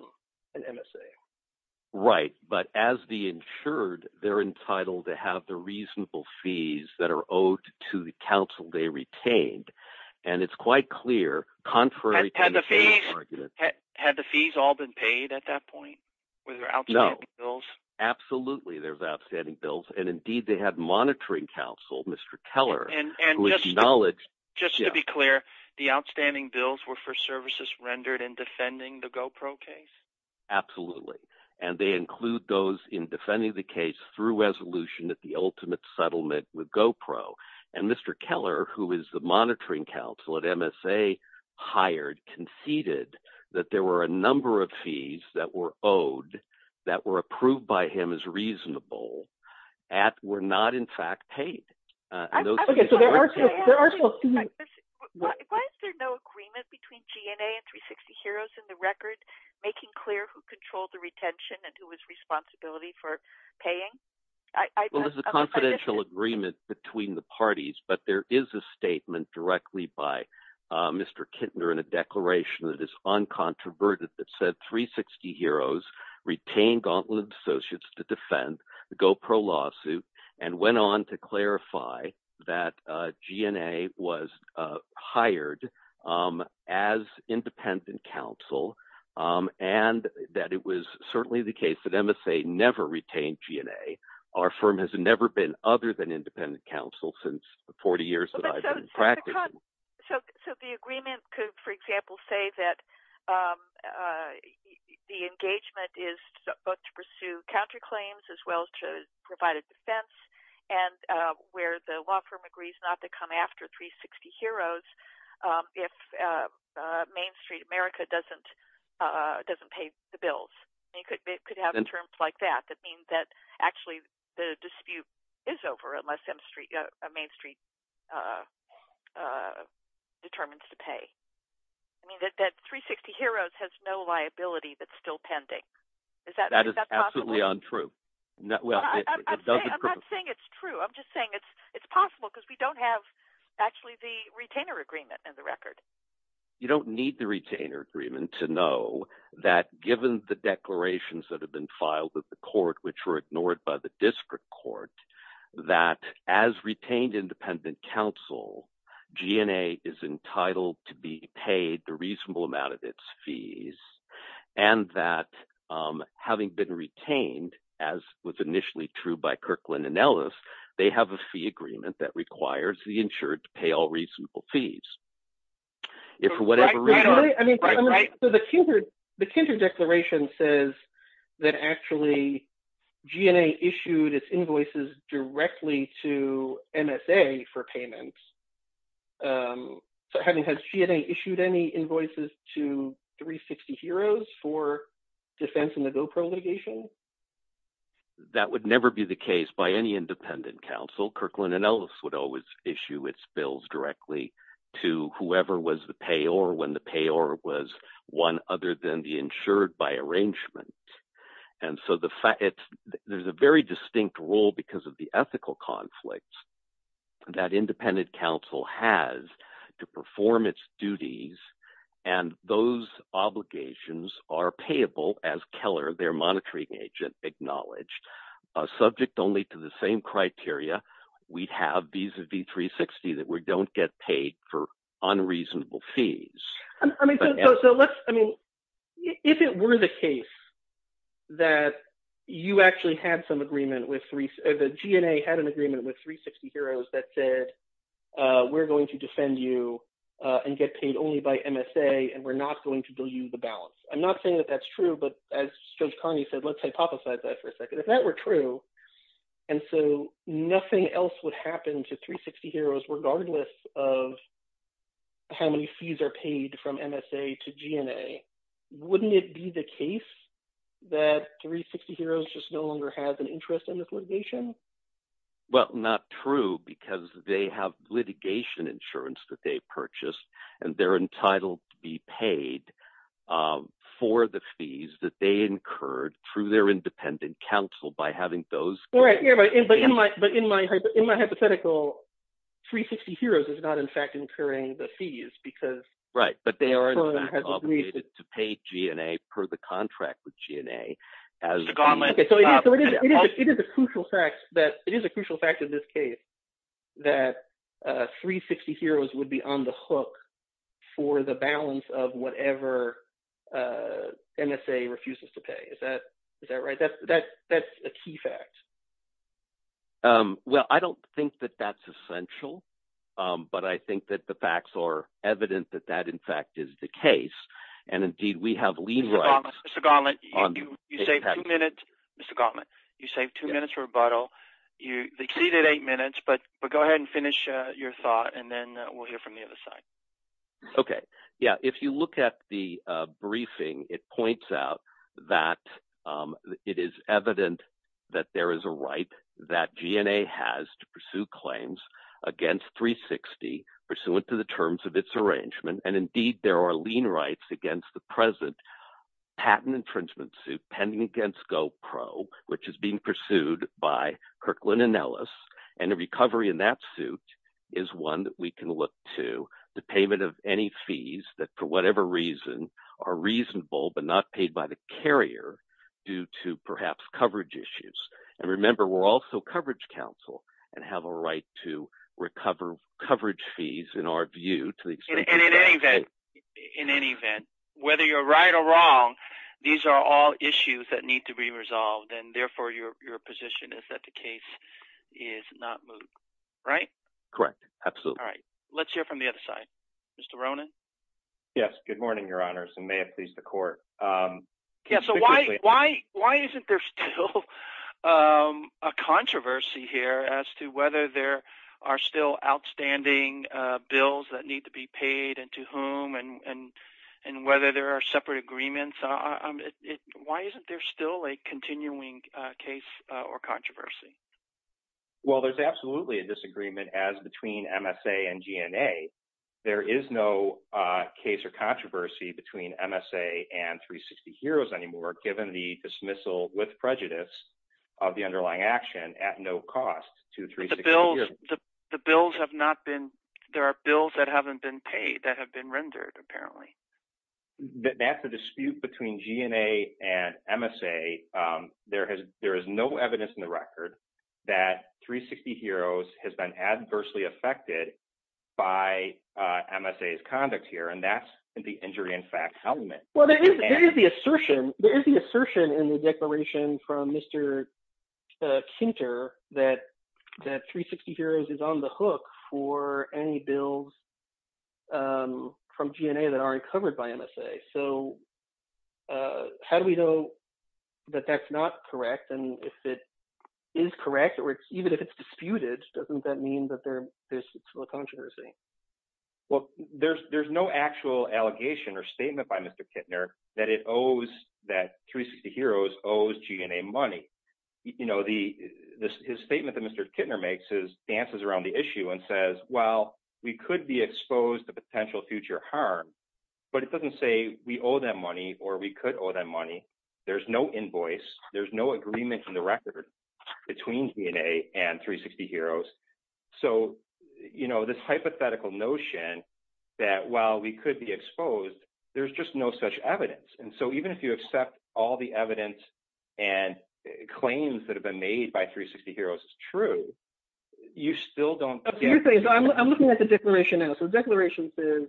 were outstanding bills. And indeed they had monitoring counsel, Mr. Keller, who acknowledged... Just to be clear, the outstanding bills were for services rendered in defending the GoPro case? Absolutely, and they include those in defending the case through resolution at the ultimate settlement with GoPro. And Mr. Keller, who is the monitoring counsel at MSA, hired, conceded that there were a number of fees that were owed, that were approved by him as reasonable, that were not in fact paid. Why is there no agreement between GNA and 360Heroes in the record, making clear who controlled the retention and who was responsible for paying? Well, there's a confidential agreement between the parties, but there is a statement directly by Mr. Kintner in a declaration that is uncontroverted that said 360Heroes retained Gauntlet Associates to defend the GoPro lawsuit and went on to clarify that GNA was hired as independent counsel and that it was certainly the case that MSA never retained GNA. Our firm has never been other than independent counsel since the 40 years that I've been practicing. So the agreement could, for example, say that the engagement is both to pursue counterclaims as well as to provide a defense and where the law firm agrees not to come after 360Heroes if Main Street America doesn't pay the bills. It could have terms like that that mean that actually the dispute is over unless Main Street determines to pay. I mean that 360Heroes has no liability that's still pending. Is that possible? That's certainly untrue. I'm not saying it's true. I'm just saying it's possible because we don't have actually the retainer agreement in the record. You don't need the retainer agreement to know that given the declarations that have been filed with the court which were ignored by the district court that as retained independent counsel, GNA is entitled to be paid the reasonable amount of its fees and that having been retained as was initially true by Kirkland & Ellis, they have a fee agreement that requires the insured to pay all reasonable fees. If for whatever reason – So the Kinder declaration says that actually GNA issued its invoices directly to MSA for payment. So has GNA issued any invoices to 360Heroes for defense in the GoPro litigation? That would never be the case by any independent counsel. Kirkland & Ellis would always issue its bills directly to whoever was the payor when the payor was one other than the insured by arrangement. And so there's a very distinct role because of the ethical conflict that independent counsel has to perform its duties, and those obligations are payable as Keller, their monitoring agent, acknowledged. Subject only to the same criteria, we have vis-a-vis 360 that we don't get paid for unreasonable fees. If it were the case that you actually had some agreement with – that GNA had an agreement with 360Heroes that said, we're going to defend you and get paid only by MSA, and we're not going to bill you the balance. I'm not saying that that's true, but as Judge Carney said, let's hypothesize that for a second. And so nothing else would happen to 360Heroes regardless of how many fees are paid from MSA to GNA. Wouldn't it be the case that 360Heroes just no longer has an interest in this litigation? Well, not true because they have litigation insurance that they purchased, and they're entitled to be paid for the fees that they incurred through their independent counsel by having those – Right, but in my hypothetical, 360Heroes is not in fact incurring the fees because – Right, but they are in fact obligated to pay GNA per the contract with GNA as – Okay, so it is a crucial fact that – it is a crucial fact in this case that 360Heroes would be on the hook for the balance of whatever MSA refuses to pay. Is that right? That's a key fact. Well, I don't think that that's essential, but I think that the facts are evident that that in fact is the case. Mr. Gauntlet, you saved two minutes. Mr. Gauntlet, you saved two minutes for rebuttal. You exceeded eight minutes, but go ahead and finish your thought, and then we'll hear from the other side. Okay. Yeah, if you look at the briefing, it points out that it is evident that there is a right that GNA has to pursue claims against 360 pursuant to the terms of its arrangement, and indeed there are lien rights against the present patent infringement suit pending against GoPro, which is being pursued by Kirkland & Ellis, and the recovery in that suit is one that we can look to the payment of any fees that for whatever reason are reasonable but not paid by the carrier due to perhaps coverage issues. And remember, we're also coverage counsel and have a right to recover coverage fees in our view to the extent – In any event, whether you're right or wrong, these are all issues that need to be resolved, and therefore your position is that the case is not moved, right? Correct. Absolutely. All right. Let's hear from the other side. Mr. Ronan? Yes. Good morning, Your Honors, and may it please the Court. Yeah, so why isn't there still a controversy here as to whether there are still outstanding bills that need to be paid and to whom and whether there are separate agreements? Why isn't there still a continuing case or controversy? Well, there's absolutely a disagreement as between MSA and GNA. There is no case or controversy between MSA and 360Heroes anymore given the dismissal with prejudice of the underlying action at no cost to 360Heroes. But the bills have not been – there are bills that haven't been paid that have been rendered apparently. That's a dispute between GNA and MSA. There is no evidence in the record that 360Heroes has been adversely affected by MSA's conduct here, and that's the injury in fact element. Well, there is the assertion in the declaration from Mr. Kinter that 360Heroes is on the hook for any bills from GNA that aren't covered by MSA. So how do we know that that's not correct? And if it is correct or even if it's disputed, doesn't that mean that there's still a controversy? Well, there's no actual allegation or statement by Mr. Kinter that it owes – that 360Heroes owes GNA money. His statement that Mr. Kinter makes is – dances around the issue and says, well, we could be exposed to potential future harm, but it doesn't say we owe them money or we could owe them money. There's no invoice. There's no agreement in the record between GNA and 360Heroes. So this hypothetical notion that while we could be exposed, there's just no such evidence. And so even if you accept all the evidence and claims that have been made by 360Heroes is true, you still don't get – So you're saying – so I'm looking at the declaration now. So the declaration says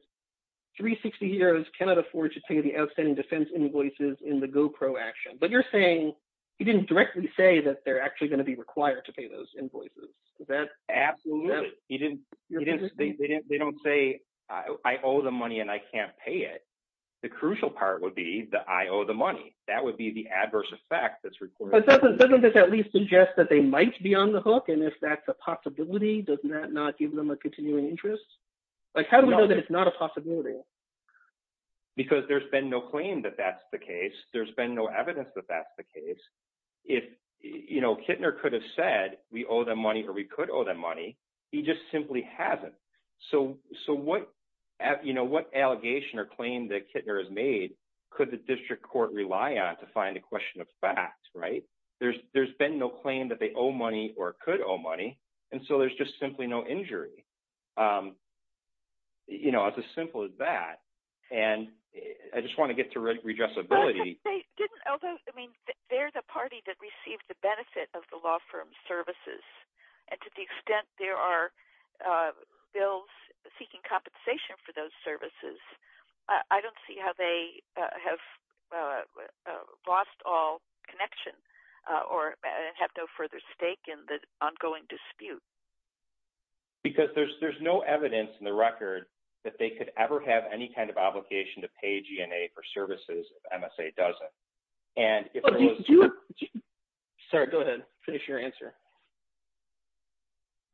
360Heroes cannot afford to pay the outstanding defense invoices in the GOPRO action. But you're saying you didn't directly say that they're actually going to be required to pay those invoices. Is that – Absolutely. You didn't – they don't say I owe them money and I can't pay it. The crucial part would be the I owe the money. That would be the adverse effect that's reported. But doesn't this at least suggest that they might be on the hook? And if that's a possibility, doesn't that not give them a continuing interest? Like how do we know that it's not a possibility? Because there's been no claim that that's the case. There's been no evidence that that's the case. If Kittner could have said we owe them money or we could owe them money, he just simply hasn't. So what allegation or claim that Kittner has made could the district court rely on to find a question of fact? There's been no claim that they owe money or could owe money, and so there's just simply no injury. It's as simple as that. And I just want to get to redressability. They're the party that received the benefit of the law firm's services, and to the extent there are bills seeking compensation for those services, I don't see how they have lost all connection or have no further stake in the ongoing dispute. Because there's no evidence in the record that they could ever have any kind of obligation to pay GNA for services if MSA doesn't. And if there was... Sorry, go ahead. Finish your answer.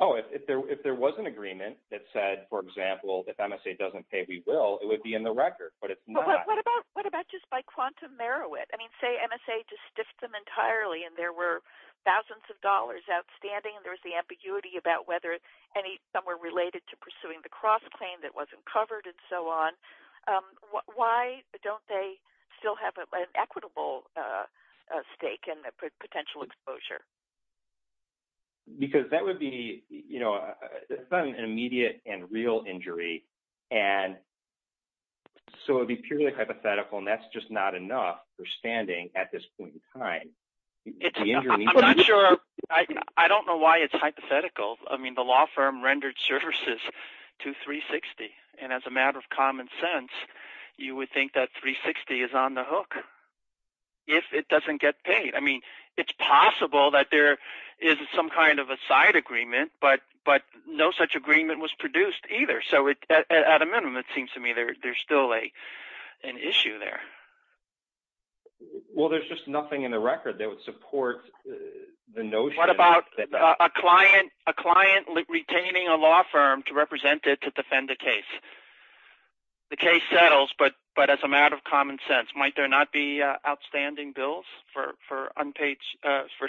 Oh, if there was an agreement that said, for example, if MSA doesn't pay, we will, it would be in the record. But if not... What about just by quantum merit? I mean, say MSA just stiffed them entirely and there were thousands of dollars outstanding and there was the ambiguity about whether some were related to pursuing the cross-claim that wasn't covered and so on. Why don't they still have an equitable stake and potential exposure? Because that would be an immediate and real injury. And so it would be purely hypothetical, and that's just not enough for standing at this point in time. I'm not sure. I don't know why it's hypothetical. I mean the law firm rendered services to 360, and as a matter of common sense, you would think that 360 is on the hook if it doesn't get paid. I mean it's possible that there is some kind of a side agreement, but no such agreement was produced either. So at a minimum, it seems to me there's still an issue there. Well, there's just nothing in the record that would support the notion... What about a client retaining a law firm to represent it to defend a case? The case settles, but as a matter of common sense, might there not be outstanding bills for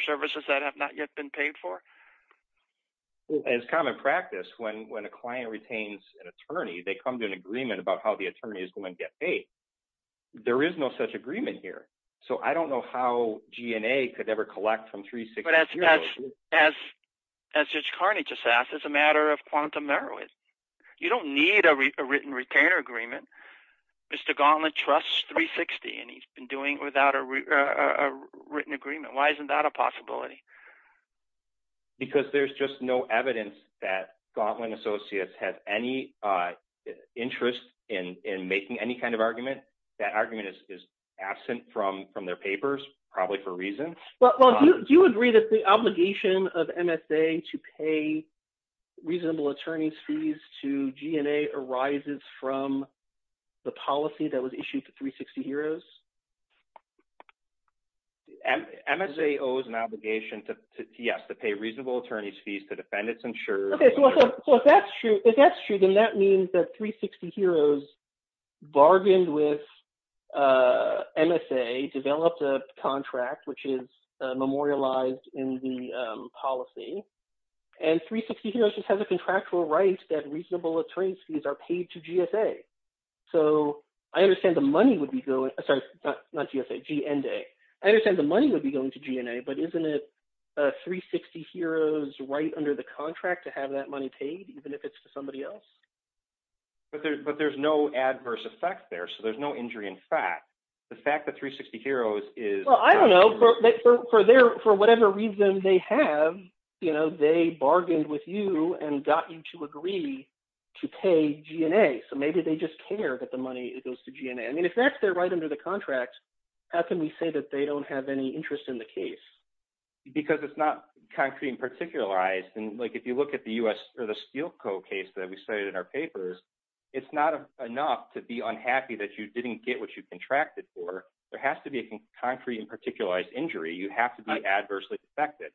services that have not yet been paid for? As common practice, when a client retains an attorney, they come to an agreement about how the attorney is going to get paid. There is no such agreement here. So I don't know how GNA could ever collect from 360. But as Judge Carney just asked, it's a matter of quantum merit. You don't need a written retainer agreement. Mr. Gauntlett trusts 360, and he's been doing it without a written agreement. Why isn't that a possibility? Because there's just no evidence that Gauntlett and Associates have any interest in making any kind of argument. That argument is absent from their papers, probably for reasons. Well, do you agree that the obligation of MSA to pay reasonable attorney's fees to GNA arises from the policy that was issued to 360Heroes? MSA owes an obligation to, yes, to pay reasonable attorney's fees to defend its insurers. Okay. So if that's true, then that means that 360Heroes bargained with MSA, developed a contract which is memorialized in the policy, and 360Heroes just has a contractual right that reasonable attorney's fees are paid to GSA. So I understand the money would be going – sorry, not GSA, GNA. I understand the money would be going to GNA, but isn't it 360Heroes' right under the contract to have that money paid even if it's to somebody else? But there's no adverse effect there, so there's no injury in fact. The fact that 360Heroes is – Well, I don't know. For whatever reason they have, they bargained with you and got you to agree to pay GNA, so maybe they just care that the money goes to GNA. I mean if that's their right under the contract, how can we say that they don't have any interest in the case? Because it's not concrete and particularized. And if you look at the U.S. Steel Co. case that we cited in our papers, it's not enough to be unhappy that you didn't get what you contracted for. There has to be a concrete and particularized injury. You have to be adversely affected.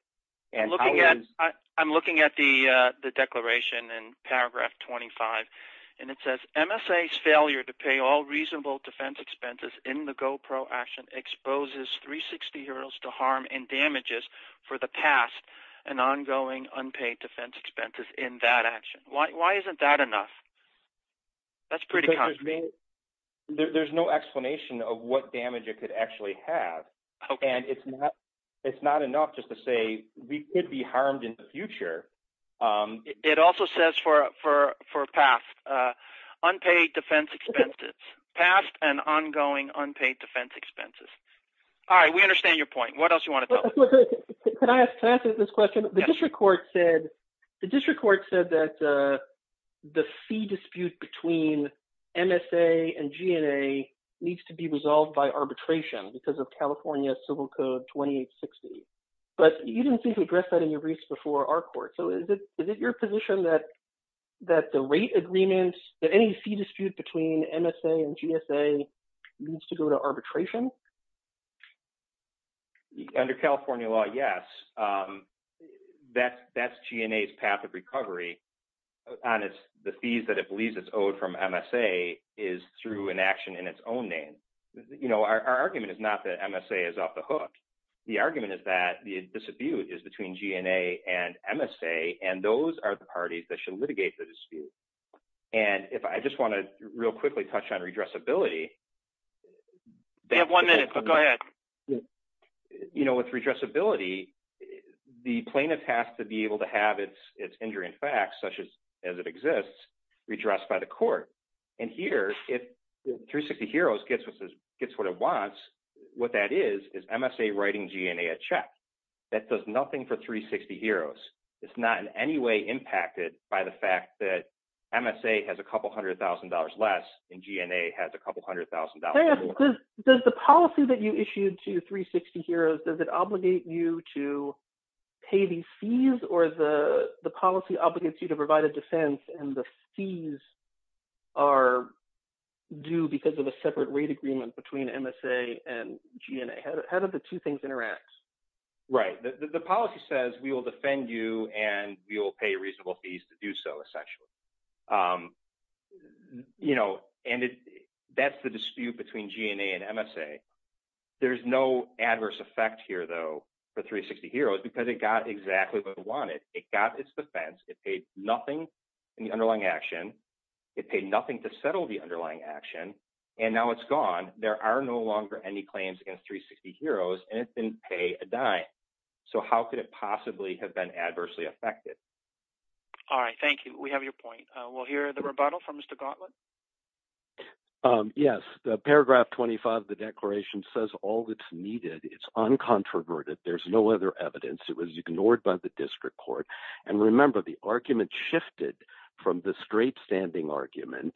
I'm looking at the declaration in paragraph 25, and it says, MSA's failure to pay all reasonable defense expenses in the GoPro action exposes 360Heroes to harm and damages for the past and ongoing unpaid defense expenses in that action. Why isn't that enough? That's pretty concrete. There's no explanation of what damage it could actually have, and it's not enough just to say we could be harmed in the future. It also says for past unpaid defense expenses, past and ongoing unpaid defense expenses. All right, we understand your point. What else do you want to tell us? Can I answer this question? The district court said that the fee dispute between MSA and GNA needs to be resolved by arbitration because of California Civil Code 2860. But you didn't seem to address that in your briefs before our court. So is it your position that the rate agreement, that any fee dispute between MSA and GSA needs to go to arbitration? Under California law, yes. That's GNA's path of recovery on the fees that it believes it's owed from MSA is through an action in its own name. Our argument is not that MSA is off the hook. The argument is that the dispute is between GNA and MSA, and those are the parties that should litigate the dispute. And if I just want to real quickly touch on redressability. You have one minute, but go ahead. You know, with redressability, the plaintiff has to be able to have its injury in fact, such as it exists, redressed by the court. And here, if 360Heroes gets what it wants, what that is, is MSA writing GNA a check. That does nothing for 360Heroes. It's not in any way impacted by the fact that MSA has a couple hundred thousand dollars less and GNA has a couple hundred thousand dollars more. Now, does the policy that you issued to 360Heroes, does it obligate you to pay these fees or the policy obligates you to provide a defense and the fees are due because of a separate rate agreement between MSA and GNA? How do the two things interact? Right. The policy says we will defend you and we will pay reasonable fees to do so, essentially. You know, and that's the dispute between GNA and MSA. There's no adverse effect here, though, for 360Heroes because it got exactly what it wanted. It got its defense. It paid nothing in the underlying action. It paid nothing to settle the underlying action. And now it's gone. There are no longer any claims against 360Heroes and it didn't pay a dime. So how could it possibly have been adversely affected? All right. Thank you. We have your point. We'll hear the rebuttal from Mr. Gauntlet. Yes. Paragraph 25 of the declaration says all that's needed. It's uncontroverted. There's no other evidence. It was ignored by the district court. And remember, the argument shifted from the straight standing argument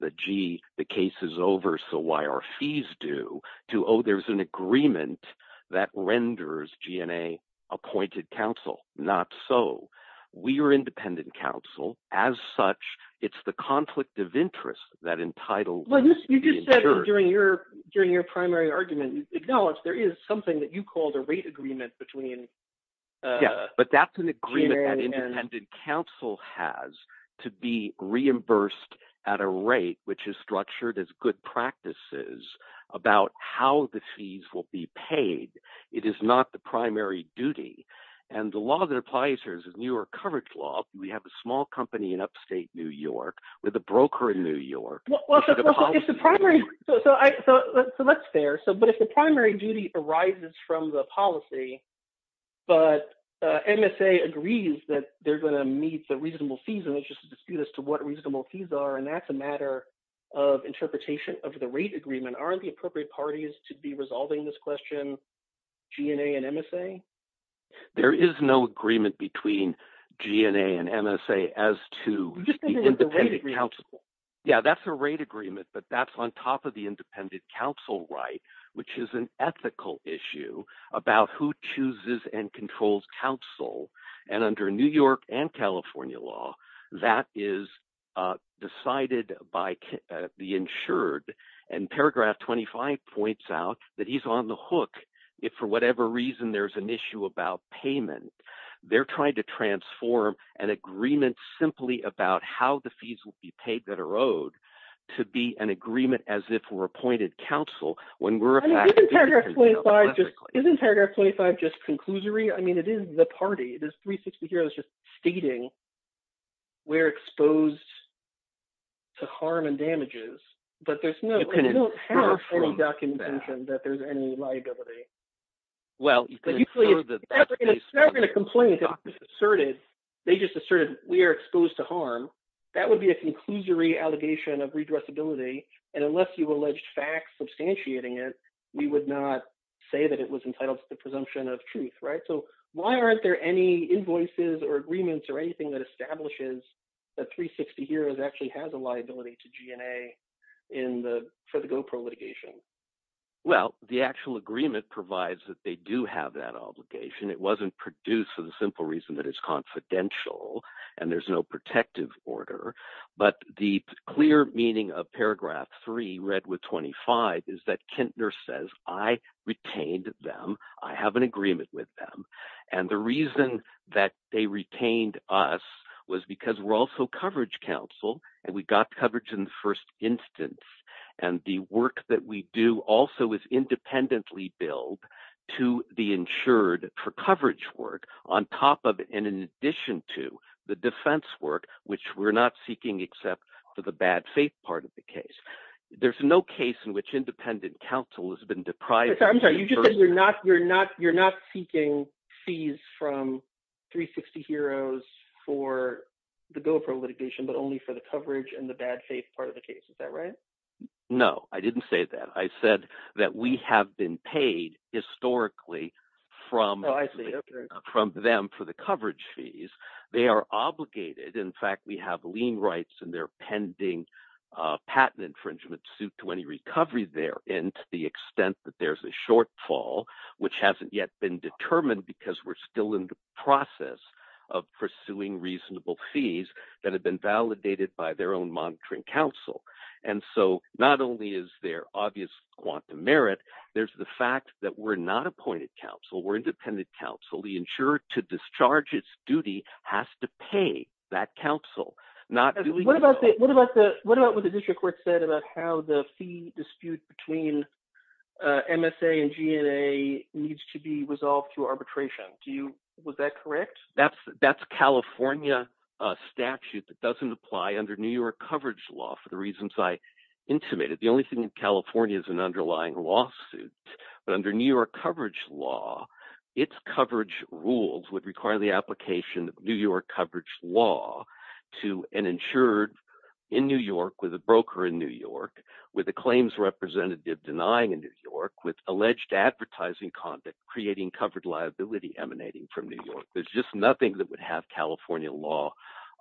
that, gee, the case is over, so why are fees due to, oh, there's an agreement that renders GNA appointed counsel. Not so. We are independent counsel. As such, it's the conflict of interest that entitled… Well, you just said during your primary argument, acknowledge there is something that you called a rate agreement between… Yeah, but that's an agreement that independent counsel has to be reimbursed at a rate which is structured as good practices about how the fees will be paid. It is not the primary duty. And the law that applies here is the New York Coverage Law. We have a small company in upstate New York with a broker in New York. Well, if the primary – so that's fair. But if the primary duty arises from the policy, but MSA agrees that they're going to meet the reasonable fees, and there's just a dispute as to what reasonable fees are, and that's a matter of interpretation of the rate agreement. And aren't the appropriate parties to be resolving this question GNA and MSA? There is no agreement between GNA and MSA as to the independent counsel. You just said there was a rate agreement. law, that is decided by the insured. And paragraph 25 points out that he's on the hook if for whatever reason there's an issue about payment. They're trying to transform an agreement simply about how the fees will be paid that are owed to be an agreement as if we're appointed counsel when we're… Isn't paragraph 25 just conclusory? I mean it is the party. This 360 here is just stating we're exposed to harm and damages, but there's no – they don't have any documentation that there's any liability. And it's not going to complain because it was asserted. They just asserted we are exposed to harm. That would be a conclusory allegation of redressability. And unless you alleged facts substantiating it, we would not say that it was entitled to the presumption of truth. So why aren't there any invoices or agreements or anything that establishes that 360 here actually has a liability to GNA for the GOPRO litigation? Well, the actual agreement provides that they do have that obligation. It wasn't produced for the simple reason that it's confidential and there's no protective order. But the clear meaning of paragraph 3, read with 25, is that Kintner says, I retained them. I have an agreement with them. And the reason that they retained us was because we're also coverage counsel, and we got coverage in the first instance. And the work that we do also is independently billed to the insured for coverage work on top of and in addition to the defense work, which we're not seeking except for the bad faith part of the case. There's no case in which independent counsel has been deprived. I'm sorry. You just said you're not seeking fees from 360 heroes for the GOPRO litigation but only for the coverage and the bad faith part of the case. Is that right? No, I didn't say that. I said that we have been paid historically from them for the coverage fees. They are obligated. In fact, we have lien rights and they're pending patent infringement suit to any recovery there. And to the extent that there's a shortfall, which hasn't yet been determined because we're still in the process of pursuing reasonable fees that have been validated by their own monitoring counsel. And so not only is there obvious quantum merit, there's the fact that we're not appointed counsel. We're independent counsel. The insured to discharge its duty has to pay that counsel. What about what the district court said about how the fee dispute between MSA and GNA needs to be resolved through arbitration? Was that correct? That's California statute that doesn't apply under New York coverage law for the reasons I intimated. The only thing in California is an underlying lawsuit. But under New York coverage law, its coverage rules would require the application of New York coverage law to an insured in New York with a broker in New York with a claims representative denying in New York with alleged advertising conduct creating covered liability emanating from New York. There's just nothing that would have California law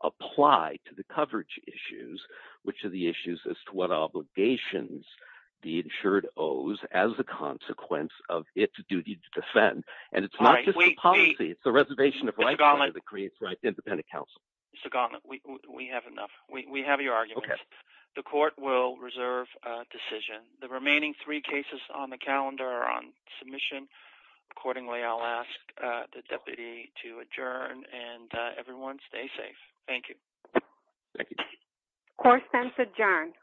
apply to the coverage issues, which are the issues as to what obligations the insured owes as a consequence of its duty to defend. Mr. Gauntlet, we have enough. We have your argument. The court will reserve a decision. The remaining three cases on the calendar are on submission. Accordingly, I'll ask the deputy to adjourn and everyone stay safe. Thank you. Thank you. Court sends adjourn.